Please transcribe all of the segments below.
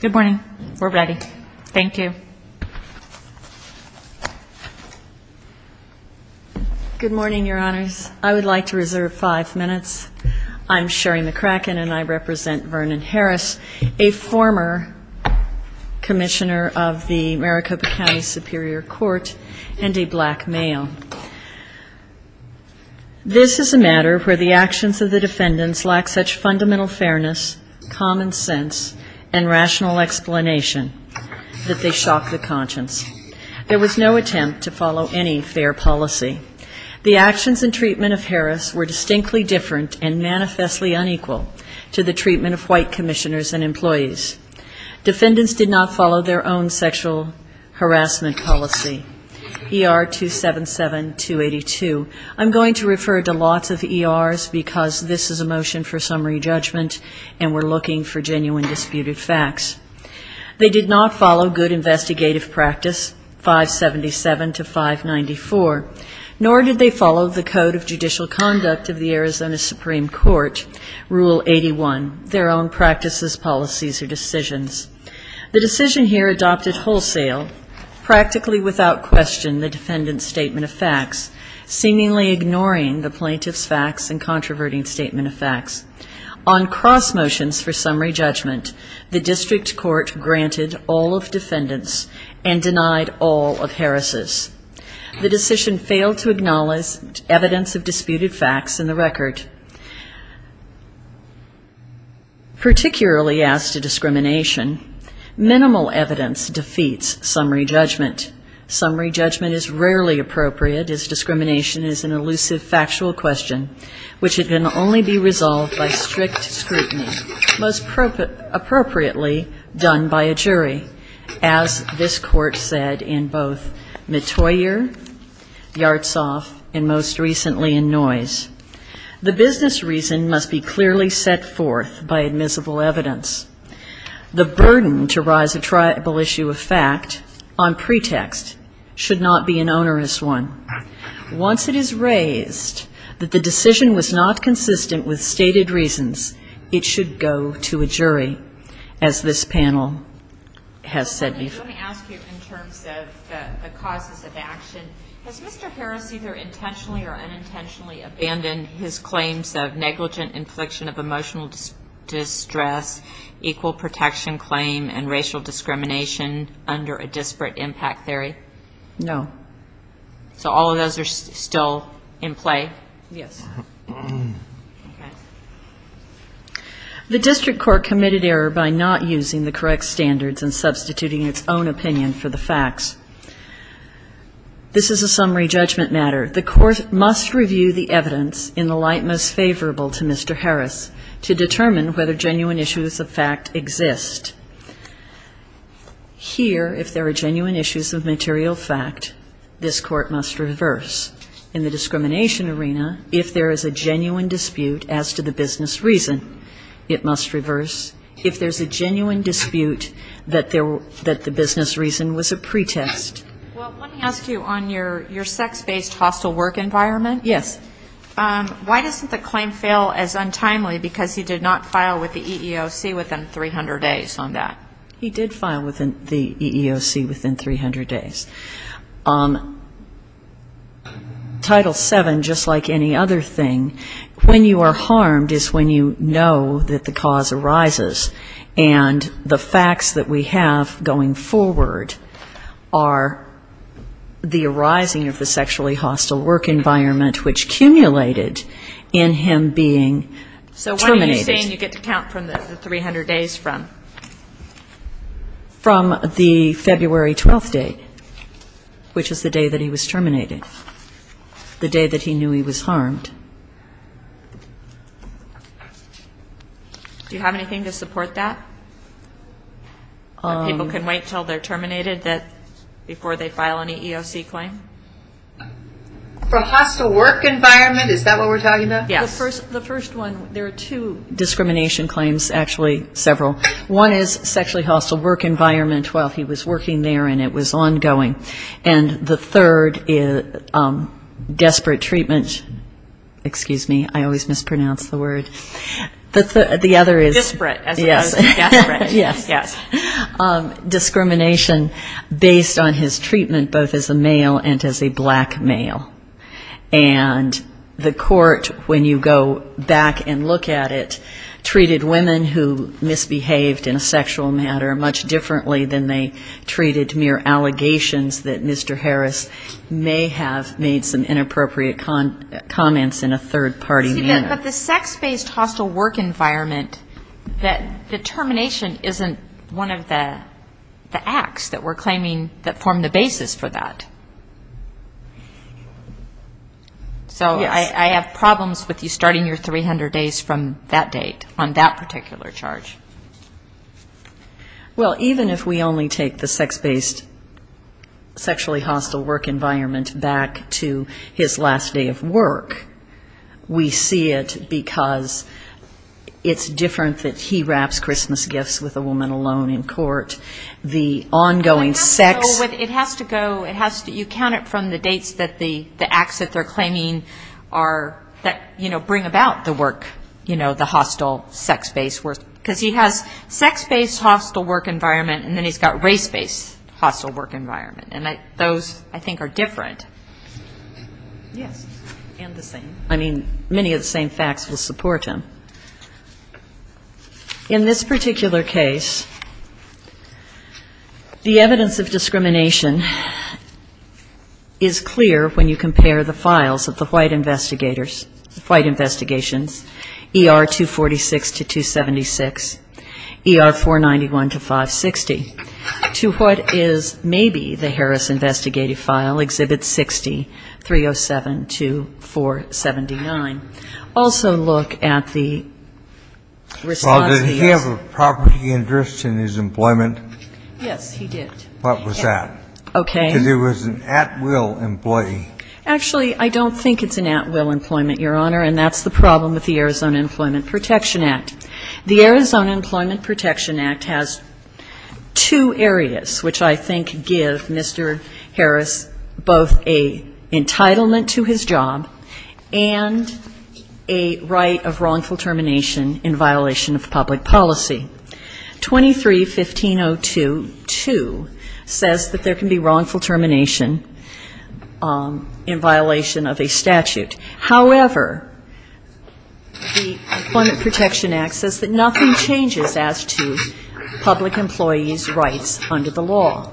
Good morning. We're ready. Thank you. Good morning, your honors. I would like to reserve five minutes. I'm Sherry McCracken and I represent Vernon Harris, a former commissioner of the Maricopa County Superior Court and a black male. This is a matter where the actions of the defendants lack such fundamental fairness, common sense, and rational explanation that they shock the conscience. There was no attempt to follow any fair policy. The actions and treatment of Harris were distinctly and manifestly unequal to the treatment of white commissioners and employees. Defendants did not follow their own sexual harassment policy. ER 277-282. I'm going to refer to lots of ERs because this is a motion for summary judgment and we're looking for genuine disputed facts. They did not follow good investigative practice, 577-594, nor did they follow the code of judicial conduct of the Arizona Supreme Court, Rule 81, their own practices, policies, or decisions. The decision here adopted wholesale, practically without question, the defendant's statement of facts, seemingly ignoring the plaintiff's facts and controverting statement of facts. On cross motions for summary judgment, the district court granted all of defendants and denied all of Harris's. The decision failed to acknowledge evidence of disputed facts in the record. Particularly as to discrimination, minimal evidence defeats summary judgment. Summary judgment is rarely appropriate as discrimination is an elusive factual question which can only be resolved by strict scrutiny, most appropriately done by a jury, as this Court said in both Mottoyer, Yartsov, and most recently in Noyes. The business reason must be clearly set forth by admissible evidence. The burden to rise a tribal issue of fact on pretext should not be an onerous one. Once it is raised that the decision was not consistent with stated reasons, it should go to a jury, as this panel has said before. Let me ask you in terms of the causes of action, has Mr. Harris either intentionally or unintentionally abandoned his claims of negligent infliction of emotional distress, equal protection claim, and racial discrimination under a disparate impact theory? No. So all of those are still in play? Yes. The district court committed error by not using the correct standards and substituting its own opinion for the facts. This is a summary judgment matter. The Court must review the evidence in the light most favorable to Mr. Harris to determine whether genuine issues of fact exist. Here, if there are genuine issues of material fact, this Court must reverse. In the discrimination arena, if there is a genuine dispute as to the business reason, it must reverse. If there's a genuine dispute that the business reason was a pretext. Well, let me ask you on your sex-based hostile work environment. Yes. Why doesn't the claim fail as untimely because he did not file with the EEOC within 300 days on that? He did file with the EEOC within 300 days. Title VII, just like any other thing, when you are harmed is when you know that the cause arises. And the facts that we have going forward are the arising of the sexually hostile work environment which cumulated in him being terminated. So what are you saying you get to count from the 300 days from? From the February 12th date, which is the day that he was terminated, the day that he knew he was harmed. Do you have anything to support that? That people can wait until they're terminated before they file any EEOC claim? From hostile work environment? Is that what we're talking about? Yes. The first one, there are two discrimination claims, actually several. One is sexually hostile work environment while he was working there and it was ongoing. And the third is desperate treatment, excuse me, I always mispronounce the word. Desperate as opposed to desperate. Yes. Discrimination based on his treatment both as a male and as a black male. And the court, when you go back and look at it, treated women who misbehaved in a sexual manner much differently than they treated mere allegations that Mr. Harris may have made some inappropriate comments in a third-party manner. But the sex-based hostile work environment, that determination isn't one of the acts that we're claiming that form the basis for that. Yes. So I have problems with you starting your 300 days from that date on that particular charge. Well, even if we only take the sex-based sexually hostile work environment back to his last day of work, we see it because it's different that he wraps Christmas gifts with a woman alone in court. The ongoing sex --. It has to go, you count it from the dates that the acts that they're claiming are, that, you know, bring about the work, you know, the hostile sex-based, because he has sex-based hostile work environment, and then he's got race-based hostile work environment. And those, I think, are different. Yes, and the same. I mean, many of the same facts will support him. In this particular case, the evidence of discrimination is clear when you look at the response to what is maybe the Harris investigative file, Exhibit 60, 307-479. Also look at the response to the act. Well, did he have a property interest in his employment? Yes, he did. What was that? Okay. Because he was an at-will employee. Actually, I don't think it's an at-will employment, Your Honor, and that's the Arizona Employment Protection Act has two areas which I think give Mr. Harris both a entitlement to his job and a right of wrongful termination in violation of public policy. 23-1502-2 says that there can be wrongful termination in violation of a statute. However, the Employment Protection Act says that nothing changes as to public employees' rights under the law.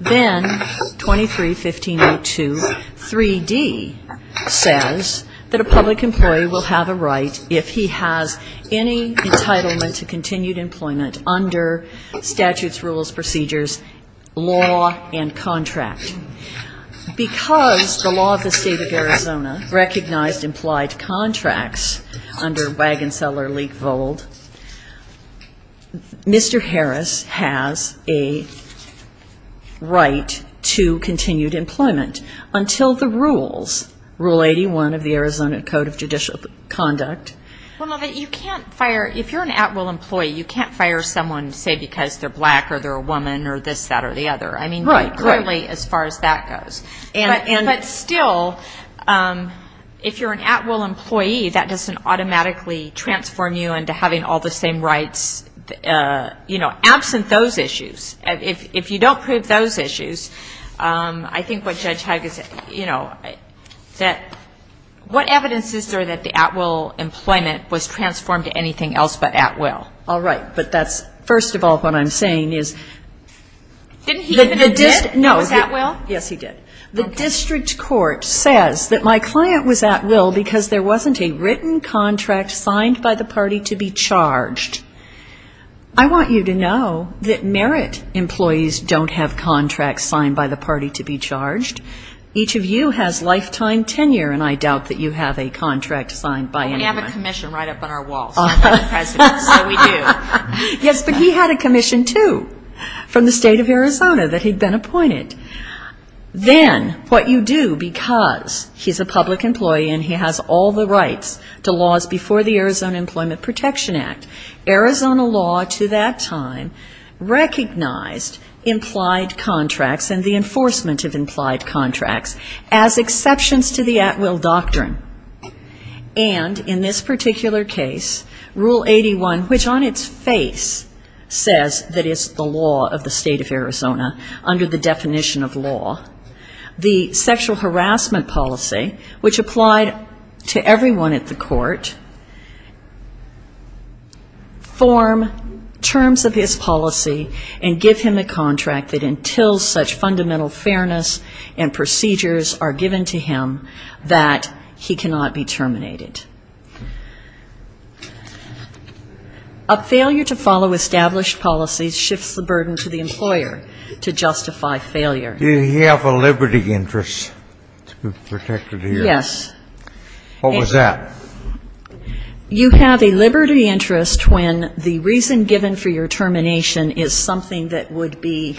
Then 23-1502-3D says that a public employee will have a right if he has any entitlement to continued employment under statutes, rules, procedures, law and contract. Because the law of the State of Arizona recognized implied contracts under Wagon-Seller-Leak-Vold, Mr. Harris has a right to continued employment until the rules, Rule 81 of the Arizona Code of Judicial Conduct. Well, but you can't fire, if you're an at-will employee, you can't fire someone, say, because they're black or they're a woman or this, that or the other. I mean, clearly, as far as that goes. But still, if you're an at-will employee, that doesn't automatically transform you into having all the same rights, you know, absent those issues. If you don't prove those issues, I think what Judge Haga said, you know, that what evidence is there that the at-will employment was transformed to anything else but at-will? All right. But that's, first of all, what I'm saying is the district court says that my client was at-will because there wasn't a written contract signed by the party to be charged. I want you to know that merit employees don't have contracts signed by the party to be charged. Each of you has lifetime tenure, and I doubt that you have a contract signed by anyone. We have a commission right up on our wall. So we do. Yes, but he had a commission, too, from the state of Arizona that he'd been appointed. Then what you do, because he's a public employee and he has all the rights to laws before the Arizona Employment Protection Act, Arizona law to that time recognized implied contracts and the enforcement of implied contracts as exceptions to the at-will doctrine. And in this particular case, Rule 81, which on its face says that it's the law of the state of Arizona under the definition of law, the sexual harassment policy which applied to everyone at the court, form terms of his policy and give him a contract that until such fundamental fairness and procedures are given to him that he cannot be terminated. A failure to follow established policies shifts the burden to the employer to justify failure. Do you have a liberty interest to be protected here? Yes. What was that? You have a liberty interest when the reason given for your termination is something that would be,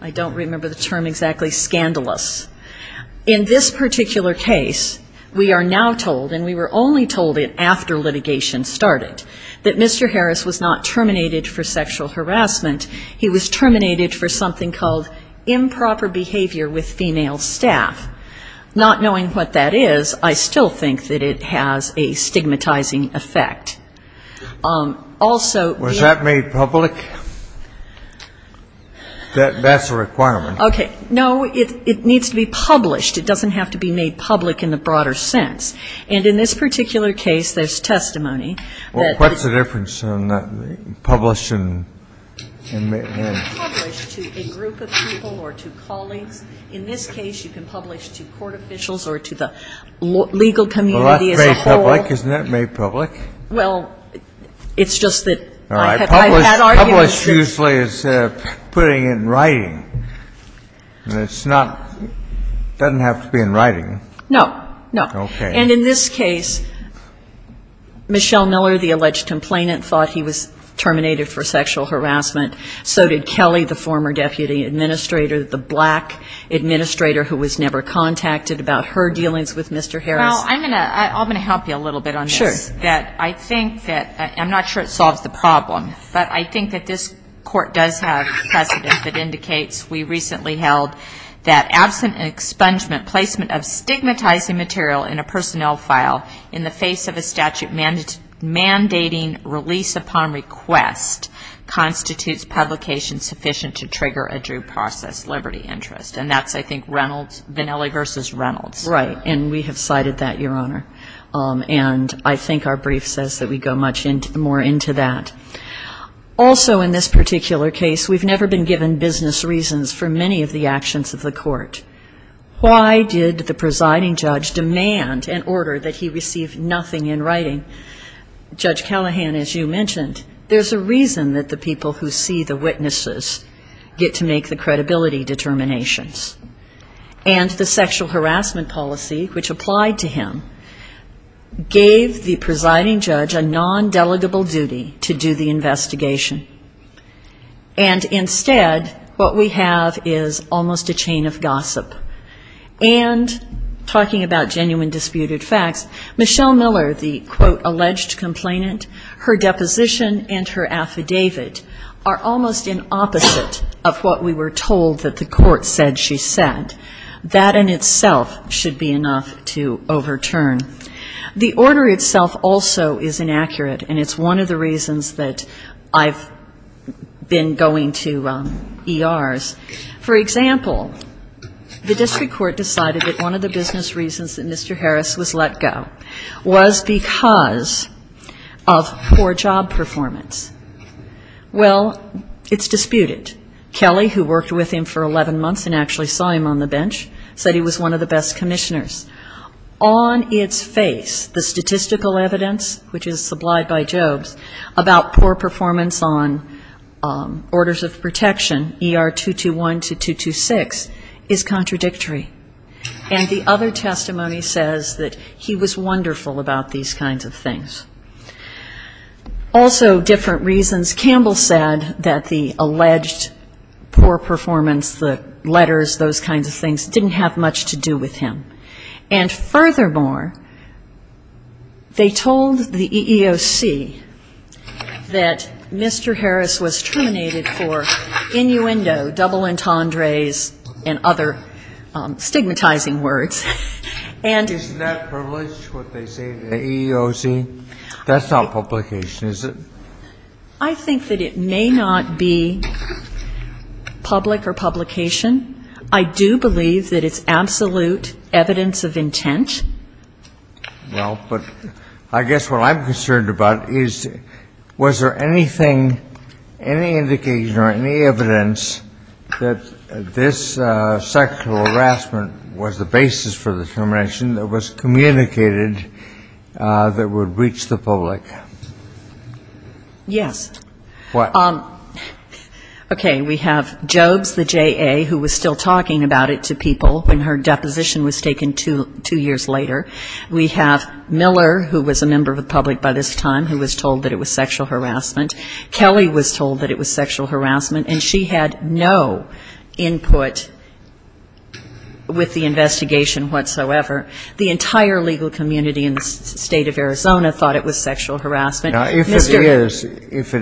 I don't remember the term exactly, scandalous. In this particular case, we are now told, and we were only told it after litigation started, that Mr. Harris was not terminated for sexual harassment. He was terminated for something called improper behavior with female staff. Not knowing what that is, I still think that it has a stigmatizing effect. Also the ---- Was that made public? That's a requirement. Okay. No, it needs to be published. It doesn't have to be made public in the broader sense. And in this particular case, there's testimony that ---- Well, what's the difference in publishing and ---- Published to a group of people or to colleagues. In this case, you can publish to court officials or to the legal community as a whole. Well, that's made public. Isn't that made public? Well, it's just that I've had arguments ---- It's not ---- It doesn't have to be in writing. No. No. Okay. And in this case, Michelle Miller, the alleged complainant, thought he was terminated for sexual harassment. So did Kelly, the former deputy administrator, the black administrator who was never contacted about her dealings with Mr. Harris. Well, I'm going to help you a little bit on this. Sure. That I think that ---- I'm not sure it solves the problem, but I think that this absent expungement, placement of stigmatizing material in a personnel file in the face of a statute mandating release upon request constitutes publication sufficient to trigger a due process liberty interest. And that's, I think, Reynolds, Vanelli v. Reynolds. Right. And we have cited that, Your Honor. And I think our brief says that we go much more into that. Also, in this particular case, we've never been given business reasons for many of the actions of the court. Why did the presiding judge demand an order that he receive nothing in writing? Judge Callahan, as you mentioned, there's a reason that the people who see the witnesses get to make the credibility determinations. And the sexual harassment policy which applied to him gave the presiding judge a non-delegable duty to do the investigation. And instead, what we have is almost a chain of gossip. And talking about genuine disputed facts, Michelle Miller, the, quote, alleged complainant, her deposition and her affidavit are almost in opposite of what we were told that the court said she said. That in itself should be enough to overturn. The order itself also is inaccurate. And it's one of the reasons that I've been going to ERs. For example, the district court decided that one of the business reasons that Mr. Harris was let go was because of poor job performance. Well, it's disputed. Kelly, who worked with him for 11 months and actually saw him on the bench, said he was one of the best commissioners. On its face, the statistical evidence, which is supplied by Jobs, about poor performance on orders of protection, ER 221 to 226, is contradictory. And the other testimony says that he was wonderful about these kinds of things. Also, different reasons. Campbell said that the alleged poor performance, the letters, those kinds of things, are not true. And furthermore, they told the EEOC that Mr. Harris was terminated for innuendo, double entendres, and other stigmatizing words. And the EEOC, that's not publication, is it? I think that it may not be public or publication. I do believe that it's absolute evidence of intent. Well, but I guess what I'm concerned about is, was there anything, any indication or any evidence that this sexual harassment was the basis for the termination that was communicated that would reach the public? Yes. What? Okay. We have Jobs, the JA, who was still talking about it to people when her deposition was taken two years later. We have Miller, who was a member of the public by this time, who was told that it was sexual harassment. Kelly was told that it was sexual harassment. And she had no input with the investigation whatsoever. The entire legal community in the State of Arizona thought it was sexual harassment. Now, if it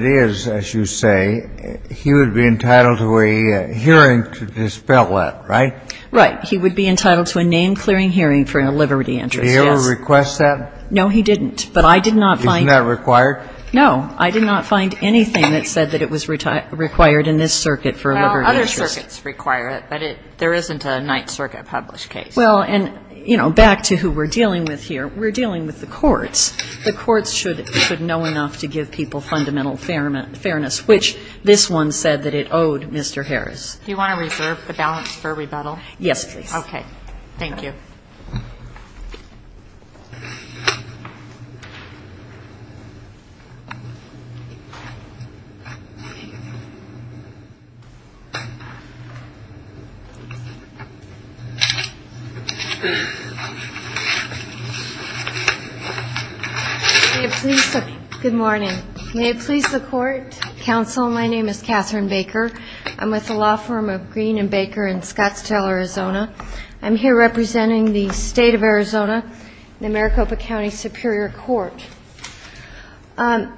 is, as you say, he would be entitled to a hearing to dispel that, right? Right. He would be entitled to a name-clearing hearing for a liberty interest, yes. Did he ever request that? No, he didn't. But I did not find anything. Isn't that required? No. I did not find anything that said that it was required in this circuit for a liberty interest. Well, other circuits require it, but there isn't a Ninth Circuit-published case. Well, and, you know, back to who we're dealing with here, we're dealing with the courts. The courts should know enough to give people fundamental fairness, which this one said that it owed Mr. Harris. Do you want to reserve the balance for rebuttal? Yes, please. Okay. Thank you. Good morning. May it please the court, counsel, my name is Catherine Baker. I'm with the law firm of Green and Baker in Scottsdale, Arizona. I'm here representing the state of Arizona, the Maricopa County Superior Court.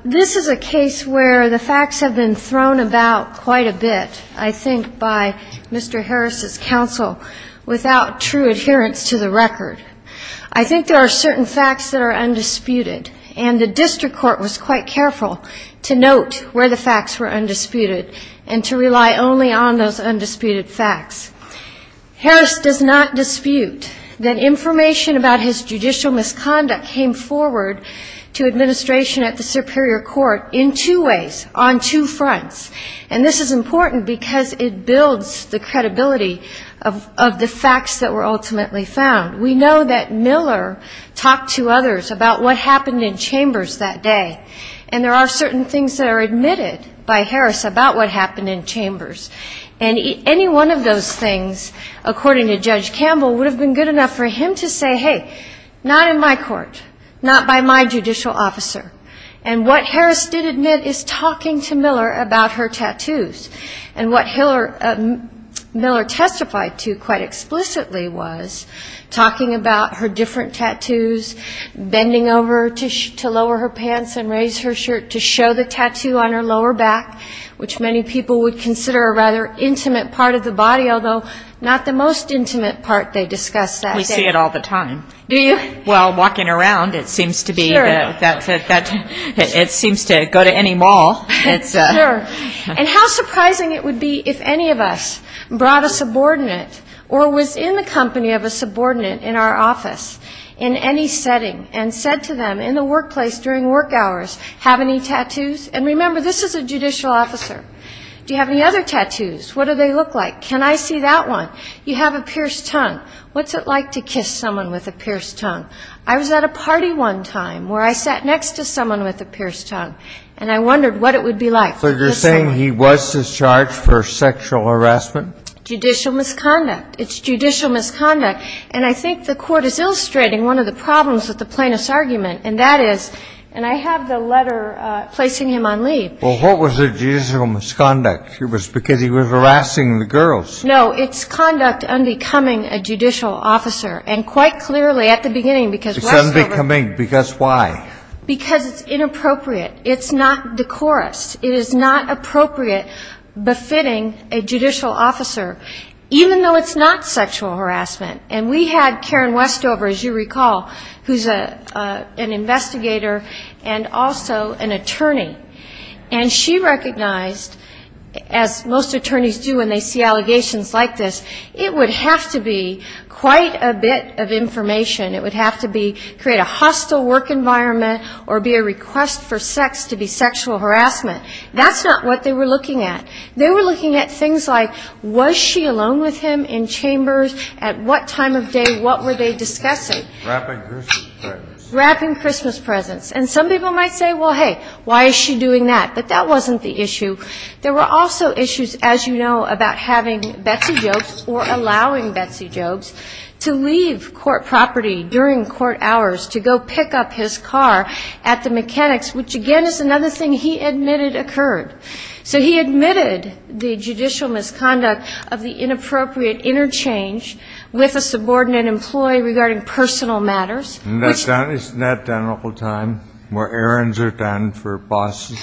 This is a case where the facts have been thrown about quite a bit, I think, by Mr. Harris's counsel, without true adherence to the record. I think there are certain facts that are undisputed, and the district court was quite careful to note where the facts were undisputed and to rely only on those undisputed facts. Harris does not dispute that information about his judicial misconduct came forward to administration at the Superior Court in two ways, on two fronts, and this is important because it builds the credibility of the facts that were ultimately found. We know that Miller talked to others about what happened in chambers that day, and there are certain things that are admitted by Harris about what happened in chambers, and any one of those things, according to Judge Campbell, would have been good enough for him to say, hey, not in my court, not by my judicial officer, and what Harris did admit is talking to Miller about her tattoos, and what Miller testified to quite explicitly was talking about her different tattoos, bending over to lower her pants and raise her shirt to show the tattoo on her lower back, which many people would consider a rather intimate part of the body, although not the most intimate part they discussed that day. We see it all the time. Do you? Well, walking around, it seems to be. Sure. It seems to go to any mall. And how surprising it would be if any of us brought a subordinate or was in the company of a subordinate in our office in any setting and said to them in the workplace during work hours, have any tattoos? And remember, this is a judicial officer. Do you have any other tattoos? What do they look like? Can I see that one? You have a pierced tongue. What's it like to kiss someone with a pierced tongue? I was at a party one time where I sat next to someone with a pierced tongue, and I wondered what it would be like. So you're saying he was discharged for sexual harassment? Judicial misconduct. It's judicial misconduct. And I think the court is illustrating one of the problems with the plaintiff's argument, and that is, and I have the letter placing him on leave. Well, what was the judicial misconduct? It was because he was harassing the girls. No, it's conduct unbecoming a judicial officer. And quite clearly at the beginning, because Westover ---- It's unbecoming. Because why? Because it's inappropriate. It's not decorous. It is not appropriate befitting a judicial officer, even though it's not sexual harassment. And we had Karen Westover, as you recall, who's an investigator and also an attorney. And she recognized, as most attorneys do when they see allegations like this, it would have to be quite a bit of information. It would have to be create a hostile work environment or be a request for sex to be sexual harassment. That's not what they were looking at. They were looking at things like, was she alone with him in chambers? At what time of day, what were they discussing? Wrapping Christmas presents. Wrapping Christmas presents. And some people might say, well, hey, why is she doing that? But that wasn't the issue. There were also issues, as you know, about having Betsy Jobes or allowing Betsy Jobes to leave court property during court hours to go pick up his car at the mechanics, which, again, is another thing he admitted occurred. So he admitted the judicial misconduct of the inappropriate interchange with a subordinate employee regarding personal matters. Isn't that done all the time, where errands are done for bosses?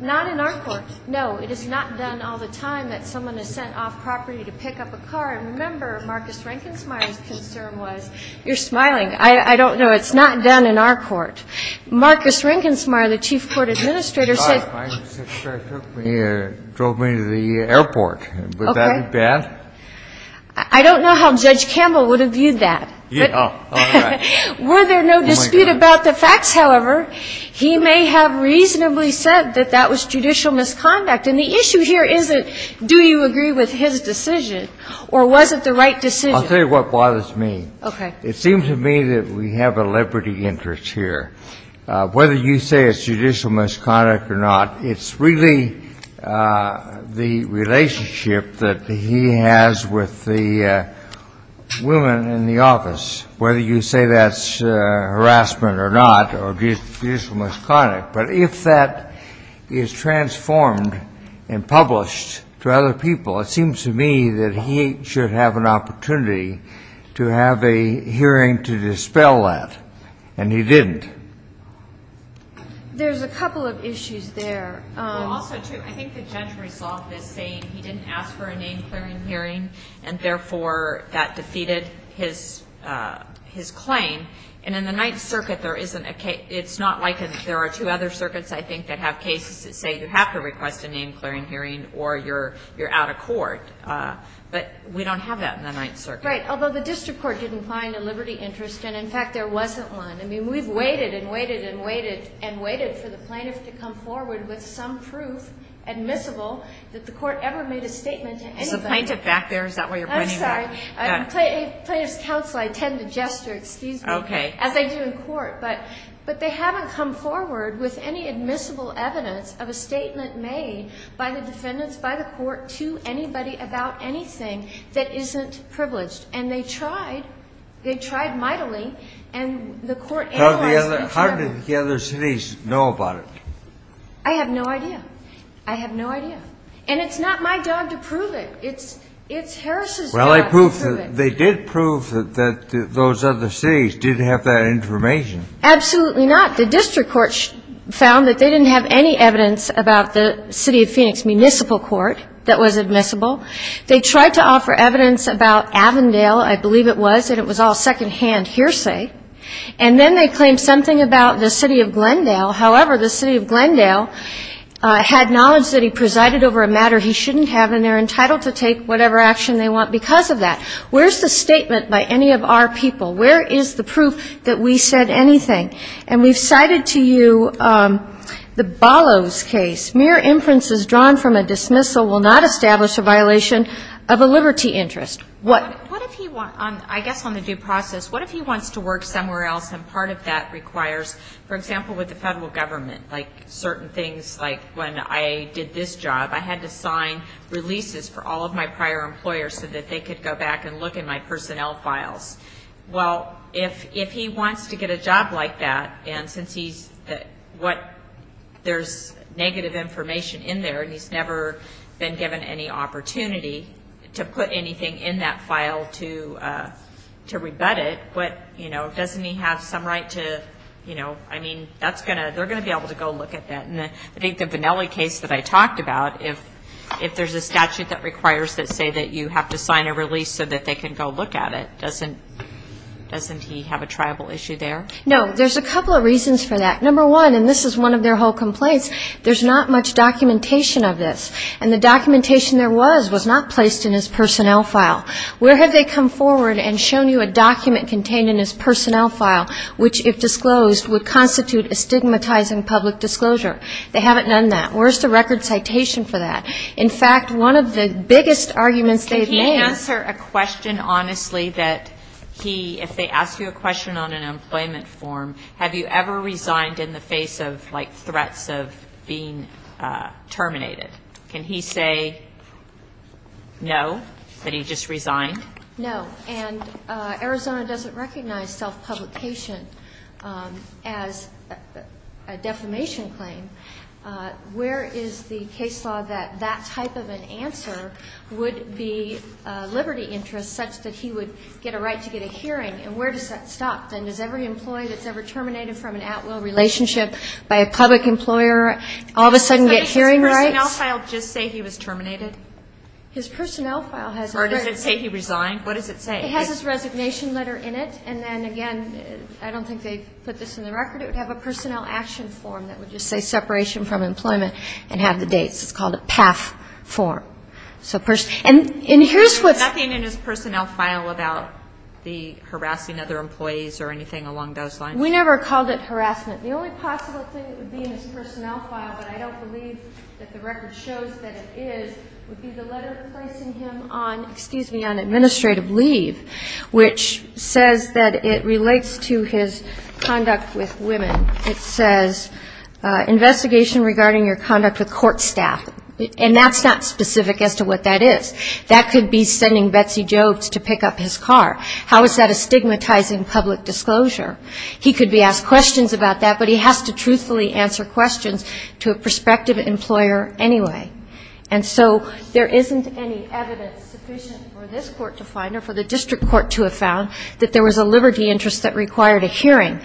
Not in our court, no. It is not done all the time that someone is sent off property to pick up a car. And remember, Marcus Renkensmeyer's concern was you're smiling. I don't know. It's not done in our court. Marcus Renkensmeyer, the chief court administrator, said. He drove me to the airport. Would that be bad? I don't know how Judge Campbell would have viewed that. Were there no dispute about the facts, however, he may have reasonably said that that was judicial misconduct. And the issue here isn't do you agree with his decision or was it the right decision. I'll tell you what bothers me. Okay. It seems to me that we have a liberty interest here. Whether you say it's judicial misconduct or not, it's really the relationship that he has with the woman in the office, whether you say that's harassment or not or judicial misconduct. But if that is transformed and published to other people, it seems to me that he should have an opportunity to have a hearing to dispel that. And he didn't. There's a couple of issues there. Also, too, I think the judge resolved this saying he didn't ask for a name-clearing hearing and, therefore, that defeated his claim. And in the Ninth Circuit, there isn't a case. It's not like there are two other circuits, I think, that have cases that say you have to request a name-clearing hearing or you're out of court. But we don't have that in the Ninth Circuit. Right, although the district court didn't find a liberty interest and, in fact, there wasn't one. I mean, we've waited and waited and waited and waited for the plaintiff to come forward with some proof admissible that the court ever made a statement to anybody. Is the plaintiff back there? Is that why you're pointing back? I'm sorry. Plaintiff's counsel, I tend to gesture, excuse me, as I do in court. But they haven't come forward with any admissible evidence of a statement made by the defendants, by the court, to anybody about anything that isn't privileged. And they tried. They tried mightily, and the court analyzed each other. How did the other cities know about it? I have no idea. I have no idea. And it's not my job to prove it. It's Harris's job. Well, they did prove that those other cities didn't have that information. Absolutely not. The district court found that they didn't have any evidence about the city of Phoenix municipal court that was admissible. They tried to offer evidence about Avondale. I believe it was, and it was all secondhand hearsay. And then they claimed something about the city of Glendale. However, the city of Glendale had knowledge that he presided over a matter he shouldn't have, and they're entitled to take whatever action they want because of that. Where's the statement by any of our people? Where is the proof that we said anything? And we've cited to you the Ballos case. Mere inferences drawn from a dismissal will not establish a violation of a liberty interest. What if he wants, I guess on the due process, what if he wants to work somewhere else, and part of that requires, for example, with the Federal Government, like certain things like when I did this job, I had to sign releases for all of my prior employers so that they could go back and look in my personnel files. Well, if he wants to get a job like that, and since he's, what, there's negative information in there, and he's never been given any opportunity to put anything in that file to rebut it, what, you know, doesn't he have some right to, you know, I mean, that's going to, they're going to be able to go look at that. And I think the Vanelli case that I talked about, if there's a statute that requires that say that you have to sign a release so that they can go look at it, doesn't he have a tribal issue there? No. There's a couple of reasons for that. Number one, and this is one of their whole complaints, there's not much documentation of this, and the documentation there was was not placed in his personnel file. Where have they come forward and shown you a document contained in his personnel file that constitutes a stigmatizing public disclosure? They haven't done that. Where's the record citation for that? In fact, one of the biggest arguments they've made. Can he answer a question honestly that he, if they ask you a question on an employment form, have you ever resigned in the face of, like, threats of being terminated? Can he say no, that he just resigned? No. And Arizona doesn't recognize self-publication as a defamation claim. Where is the case law that that type of an answer would be liberty interest such that he would get a right to get a hearing? And where does that stop? Then does every employee that's ever terminated from an at-will relationship by a public employer all of a sudden get hearing rights? Doesn't his personnel file just say he was terminated? His personnel file has no right. Or does it say he resigned? What does it say? It has his resignation letter in it. And then, again, I don't think they put this in the record. It would have a personnel action form that would just say separation from employment and have the dates. It's called a PAF form. And here's what's --. There's nothing in his personnel file about the harassing other employees or anything along those lines? We never called it harassment. The only possible thing that would be in his personnel file, but I don't believe that the record shows that it is, would be the letter placing him on administrative leave, which says that it relates to his conduct with women. It says investigation regarding your conduct with court staff. And that's not specific as to what that is. That could be sending Betsy Jobes to pick up his car. How is that a stigmatizing public disclosure? He could be asked questions about that, but he has to truthfully answer questions to a prospective employer anyway. And so there isn't any evidence sufficient for this court to find or for the district court to have found that there was a liberty interest that required a hearing.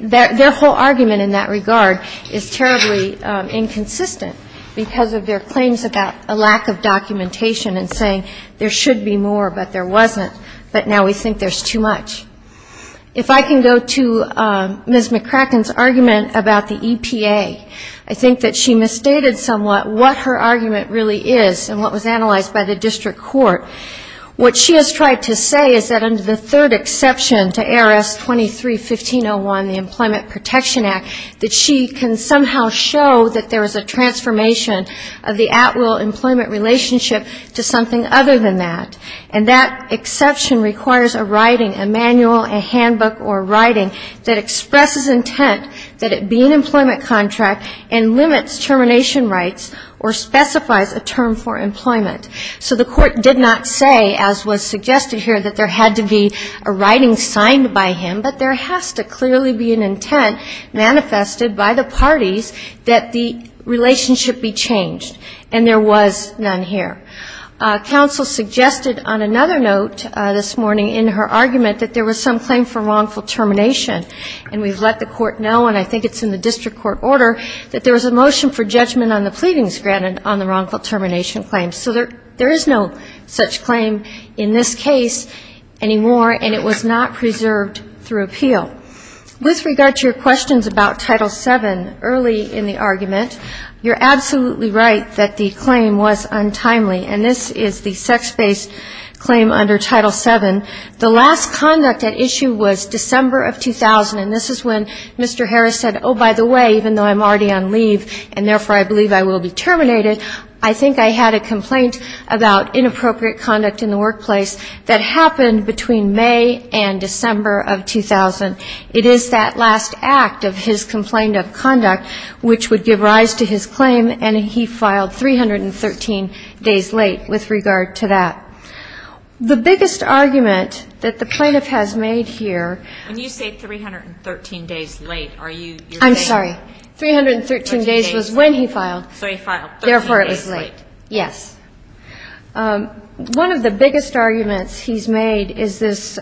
Their whole argument in that regard is terribly inconsistent because of their claims about a lack of documentation and saying there should be more, but there wasn't, but now we think there's too much. If I can go to Ms. McCracken's argument about the EPA, I think that she misstated somewhat what her argument really is and what was analyzed by the district court. What she has tried to say is that under the third exception to ARS 23-1501, the Employment Protection Act, that she can somehow show that there is a transformation of the at-will employment relationship to something other than that. And that exception requires a writing, a manual, a handbook or writing that expresses intent that it be an employment contract and limits termination rights or specifies a term for employment. So the court did not say, as was suggested here, that there had to be a writing signed by him, but there has to clearly be an intent manifested by the parties that the relationship be changed. And there was none here. Counsel suggested on another note this morning in her argument that there was some claim for wrongful termination. And we've let the court know, and I think it's in the district court order, that there was a motion for judgment on the pleadings granted on the wrongful termination claim. So there is no such claim in this case anymore, and it was not preserved through appeal. With regard to your questions about Title VII early in the argument, you're absolutely right that the claim was untimely, and this is the sex-based claim under Title VII. The last conduct at issue was December of 2000, and this is when Mr. Harris said, oh, by the way, even though I'm already on leave and therefore I believe I will be terminated, I think I had a complaint about inappropriate conduct in the workplace that happened between May and December of 2000. It is that last act of his complaint of conduct which would give rise to his claim, and he filed 313 days late with regard to that. The biggest argument that the plaintiff has made here... When you say 313 days late, are you saying... I'm sorry. 313 days was when he filed. So he filed 13 days late. Therefore it was late. Yes. One of the biggest arguments he's made is this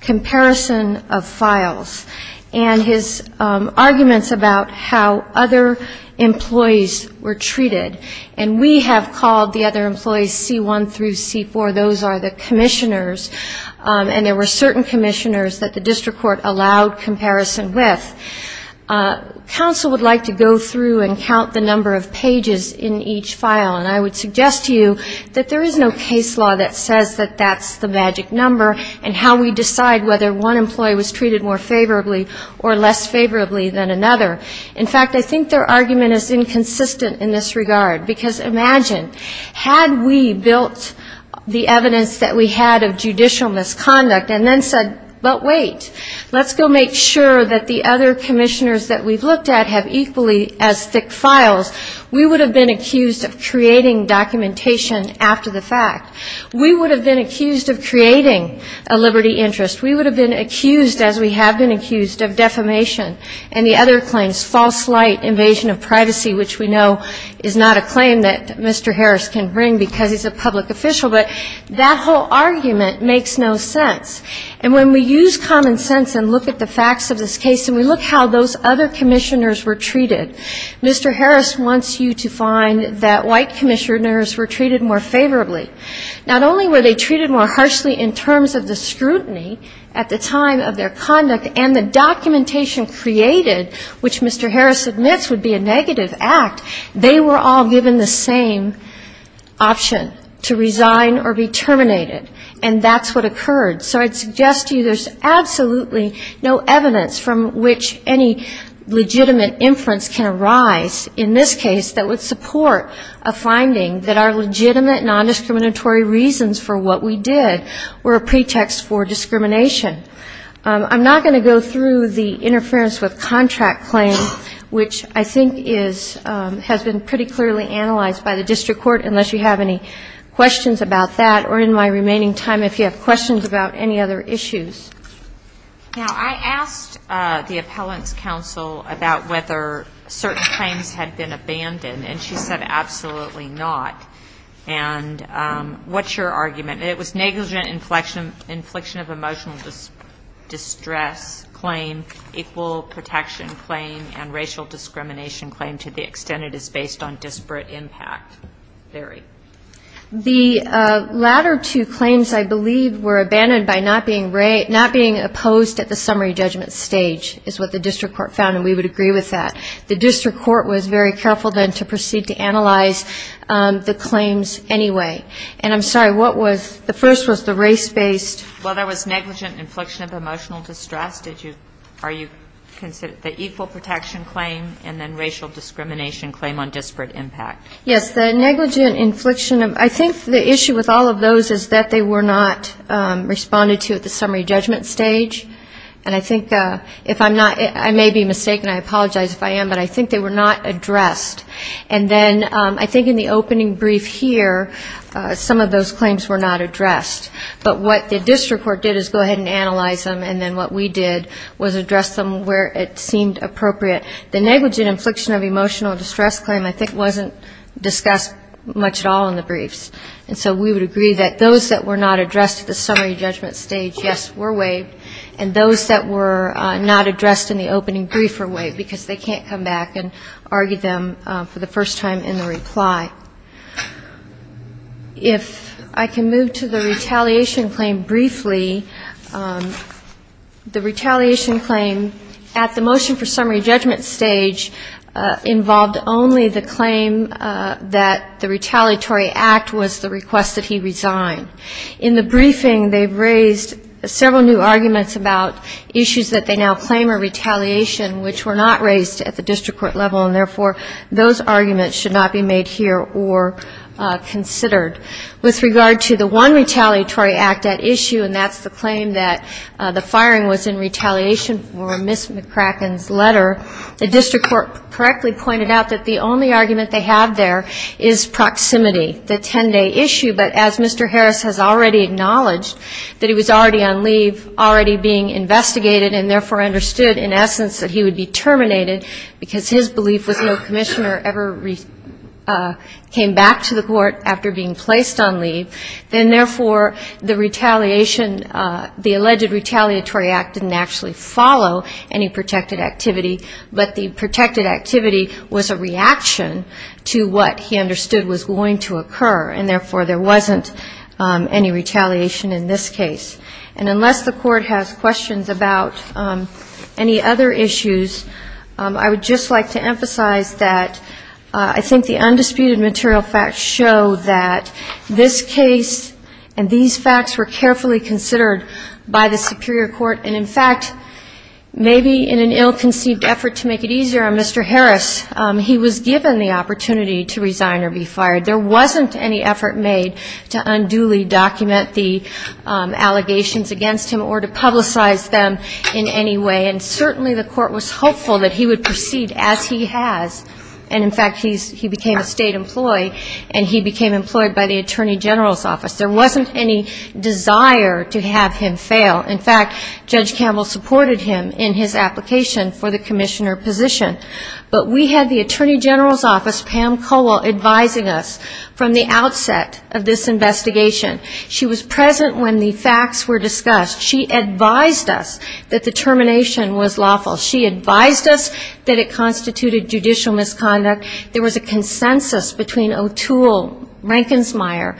comparison of files and his arguments about how other employees were treated, and we have called the other employees C1 through C4. Those are the commissioners, and there were certain commissioners that the district court allowed comparison with. Counsel would like to go through and count the number of pages in each file, and I would suggest to you that there is no case law that says that that's the magic number and how we decide whether one employee was treated more favorably or less favorably than another. In fact, I think their argument is inconsistent in this regard, because imagine, had we built the evidence that we had of judicial misconduct and then said, but wait, let's go make sure that the other commissioners that we've looked at have equally as thick files, we would have been accused of creating documentation after the fact. We would have been accused of creating a liberty interest. We would have been accused, as we have been accused, of defamation, and the other claims, false light, invasion of privacy, which we know is not a claim that Mr. Harris can bring because he's a public official. But that whole argument makes no sense. And when we use common sense and look at the facts of this case and we look how those other commissioners were treated, Mr. Harris wants you to find that white commissioners were treated more favorably. Not only were they treated more harshly in terms of the scrutiny at the time of their conduct and the documentation created, which Mr. Harris admits would be a negative act, they were all given the same option to resign or be terminated. And that's what occurred. So I'd suggest to you there's absolutely no evidence from which any legitimate inference can arise in this case that would support a finding that our legitimate nondiscriminatory reasons for what we did were a pretext for discrimination. I'm not going to go through the interference with contract claim, which I think has been pretty clearly analyzed by the district court, unless you have any questions about that, or in my remaining time if you have questions about any other issues. Now, I asked the appellant's counsel about whether certain claims had been abandoned, and she said absolutely not. And what's your argument? It was negligent infliction of emotional distress claim, equal protection claim, and racial discrimination claim to the extent it is based on disparate impact theory. The latter two claims, I believe, were abandoned by not being opposed at the summary judgment stage, is what the district court found, and we would agree with that. The district court was very careful then to proceed to analyze the claims anyway. And I'm sorry, what was the first was the race-based? Well, there was negligent infliction of emotional distress. Are you considering the equal protection claim and then racial discrimination claim on disparate impact? Yes, the negligent infliction. I think the issue with all of those is that they were not responded to at the summary judgment stage. And I think if I'm not, I may be mistaken, I apologize if I am, but I think they were not addressed. And then I think in the opening brief here, some of those claims were not addressed. But what the district court did is go ahead and analyze them, and then what we did was address them where it seemed appropriate. The negligent infliction of emotional distress claim, I think, wasn't discussed much at all in the briefs. And so we would agree that those that were not addressed at the summary judgment stage, yes, were waived, and those that were not addressed in the opening brief were waived, because they can't come back and argue them for the first time in the reply. If I can move to the retaliation claim briefly, the retaliation claim at the motion for summary judgment stage involved only the claim that the retaliatory act was the request that he resign. In the briefing, they raised several new arguments about issues that they now claim are not raised at the district court level, and therefore those arguments should not be made here or considered. With regard to the one retaliatory act at issue, and that's the claim that the firing was in retaliation for Ms. McCracken's letter, the district court correctly pointed out that the only argument they have there is proximity, the 10-day issue. But as Mr. Harris has already acknowledged that he was already on leave, already being investigated, and therefore understood in essence that he would be terminated because his belief was no commissioner ever came back to the court after being placed on leave, then therefore the retaliation, the alleged retaliatory act didn't actually follow any protected activity, but the protected activity was a reaction to what he understood was going to occur, and therefore there wasn't any retaliation in this case. And unless the court has questions about any other issues, I would just like to emphasize that I think the undisputed material facts show that this case and these facts were carefully considered by the superior court, and in fact maybe in an ill-conceived effort to make it easier on Mr. Harris, he was given the opportunity to resign or be fired. There wasn't any effort made to unduly document the allegations against him or to publicize them in any way, and certainly the court was hopeful that he would proceed as he has, and in fact he became a state employee and he became employed by the Attorney General's Office. There wasn't any desire to have him fail. In fact, Judge Campbell supported him in his application for the commissioner position. But we had the Attorney General's Office, Pam Cole, advising us from the outset of this investigation. She was present when the facts were discussed. She advised us that the termination was lawful. She advised us that it constituted judicial misconduct. There was a consensus between O'Toole, Rankinsmeyer,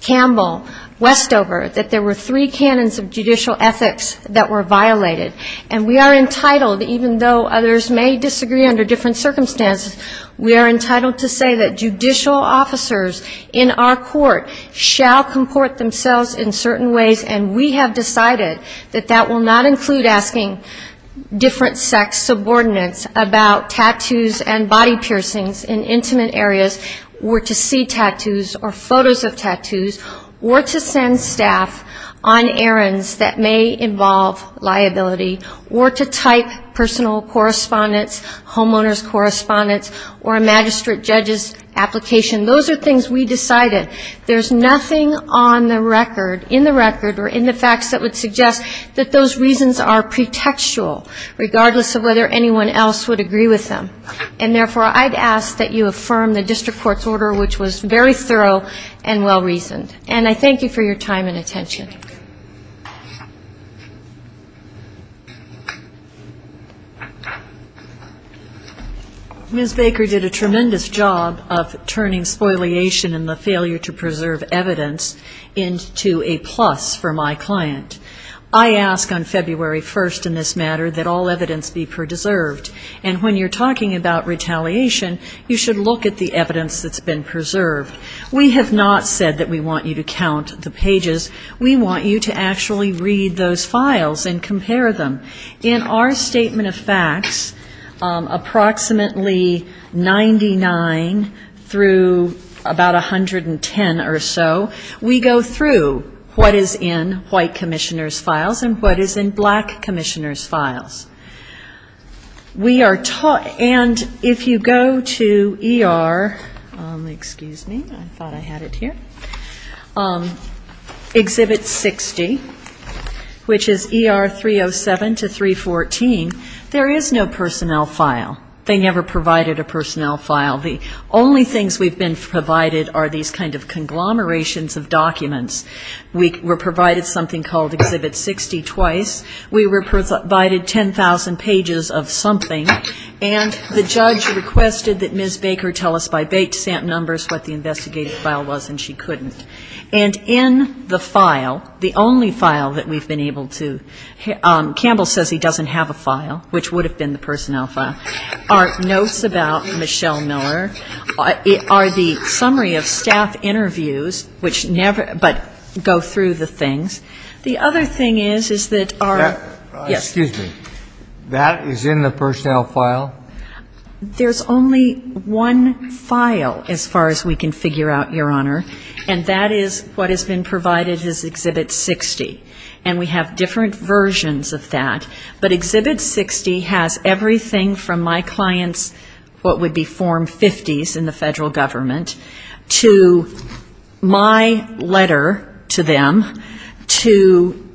Campbell, Westover, that there were three canons of judicial ethics that were violated. And we are entitled, even though others may disagree under different circumstances, we are entitled to say that judicial officers in our court shall comport themselves in certain ways, and we have decided that that will not include asking different sex subordinates about tattoos and body piercings in intimate areas or to see tattoos or photos of tattoos or to send staff on errands that may involve liability or to type personal correspondence, homeowner's correspondence or a magistrate judge's application. Those are things we decided. There's nothing on the record, in the record or in the facts that would suggest that those reasons are pretextual, regardless of whether anyone else would agree with them. And therefore, I'd ask that you affirm the district court's order, which was very thorough and well-reasoned. And I thank you for your time and attention. Thank you. Ms. Baker did a tremendous job of turning spoliation and the failure to preserve evidence into a plus for my client. I ask on February 1st in this matter that all evidence be preserved. And when you're talking about retaliation, you should look at the evidence that's been preserved. We have not said that we want you to count the pages. We want you to actually read those files and compare them. In our statement of facts, approximately 99 through about 110 or so, we go through what is in white commissioners' files and what is in black commissioners' files. And if you go to ER, excuse me, I thought I had it here. Exhibit 60, which is ER 307 to 314, there is no personnel file. They never provided a personnel file. The only things we've been provided are these kind of conglomerations of documents. We were provided something called Exhibit 60 twice. We were provided 10,000 pages of something. And the judge requested that Ms. Baker tell us by bait stamp numbers what the investigative file was, and she couldn't. And in the file, the only file that we've been able to, Campbell says he doesn't have a file, which would have been the personnel file, are notes about Michelle Miller, are the summary of staff interviews, which never, but go through the things. The other thing is, is that our, yes. Excuse me. That is in the personnel file? There's only one file, as far as we can figure out, Your Honor. And that is what has been provided as Exhibit 60. And we have different versions of that. But Exhibit 60 has everything from my clients, what would be Form 50s in the federal government, to my letter to them, to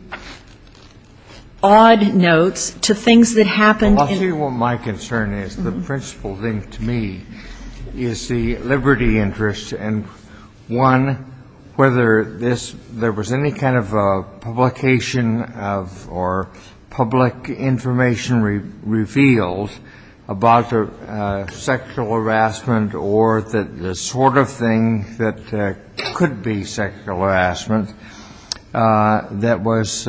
odd notes, to things that happened. I'll tell you what my concern is. The principal thing to me is the liberty interest, and one, whether there was any kind of publication of, or public information revealed about sexual harassment, or the sort of thing that could be sexual harassment, that was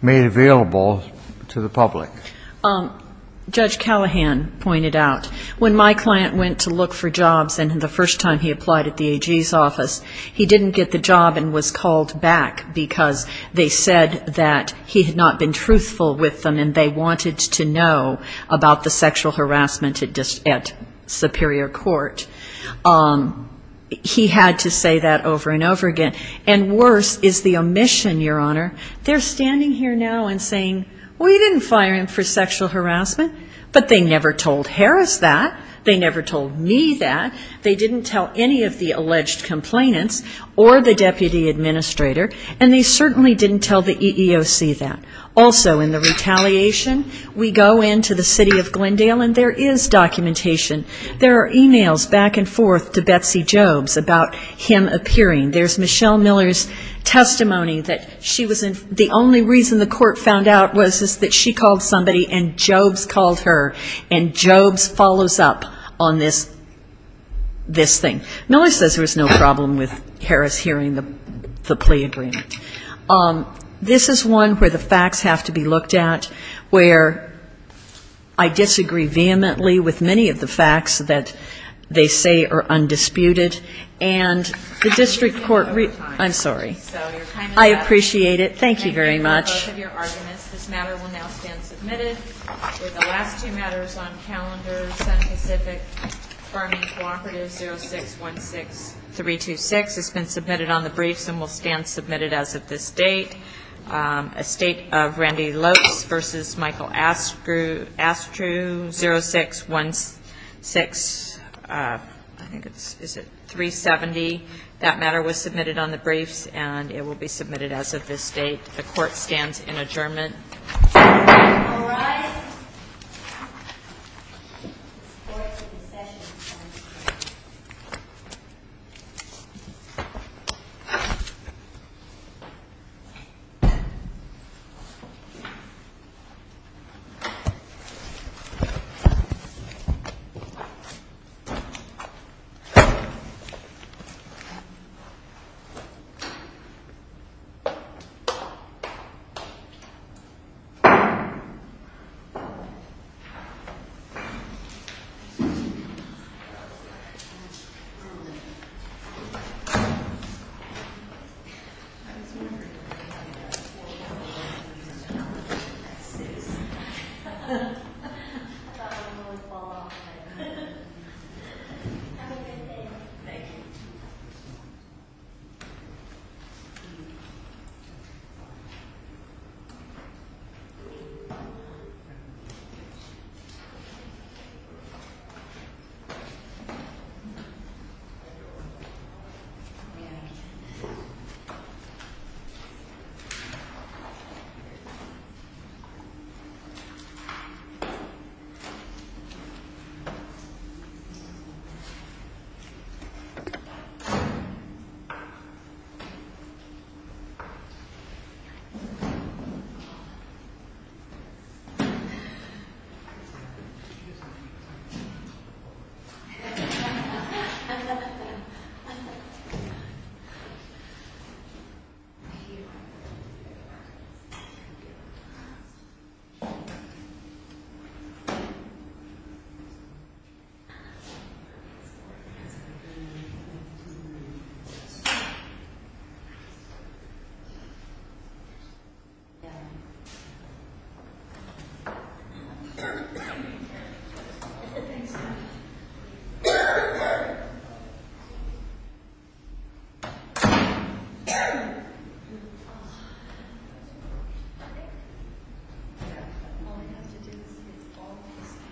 made available to the public. Judge Callahan pointed out, when my client went to look for jobs, and the first time he applied at the AG's office, he didn't get the job and was called back, because they said that he had not been truthful with them, and they wanted to know about the sexual harassment at Superior Court. He had to say that over and over again. And worse is the omission, Your Honor. They're standing here now and saying, well, you didn't fire him for sexual harassment, but they never told Harris that. They never told me that. They didn't tell any of the alleged complainants, or the deputy administrator, and they certainly didn't tell the EEOC that. Also, in the retaliation, we go into the city of Glendale, and there is documentation. There are e-mails back and forth to Betsy Jobes about him appearing. There's Michelle Miller's testimony that she was the only reason the court found out was that she called somebody and Jobes called her, and Jobes follows up on this thing. Miller says there was no problem with Harris hearing the plea agreement. This is one where the facts have to be looked at, where I disagree vehemently with many of the facts that they say are undisputed, and the district court really ‑‑ I'm sorry. I appreciate it. Thank you very much. This matter will now stand submitted. The last two matters on calendar, Senate Pacific Farming Cooperative 0616326 has been submitted on the briefs and will stand submitted as of this date. A state of Randy Lopes v. Michael Astru, 0616370, that matter was submitted on the briefs, and it will be submitted as of this date. The court stands in adjournment. All rise. Have a good day. Thank you. Thank you. Thank you. Thank you. Thank you. Thank you. Thank you.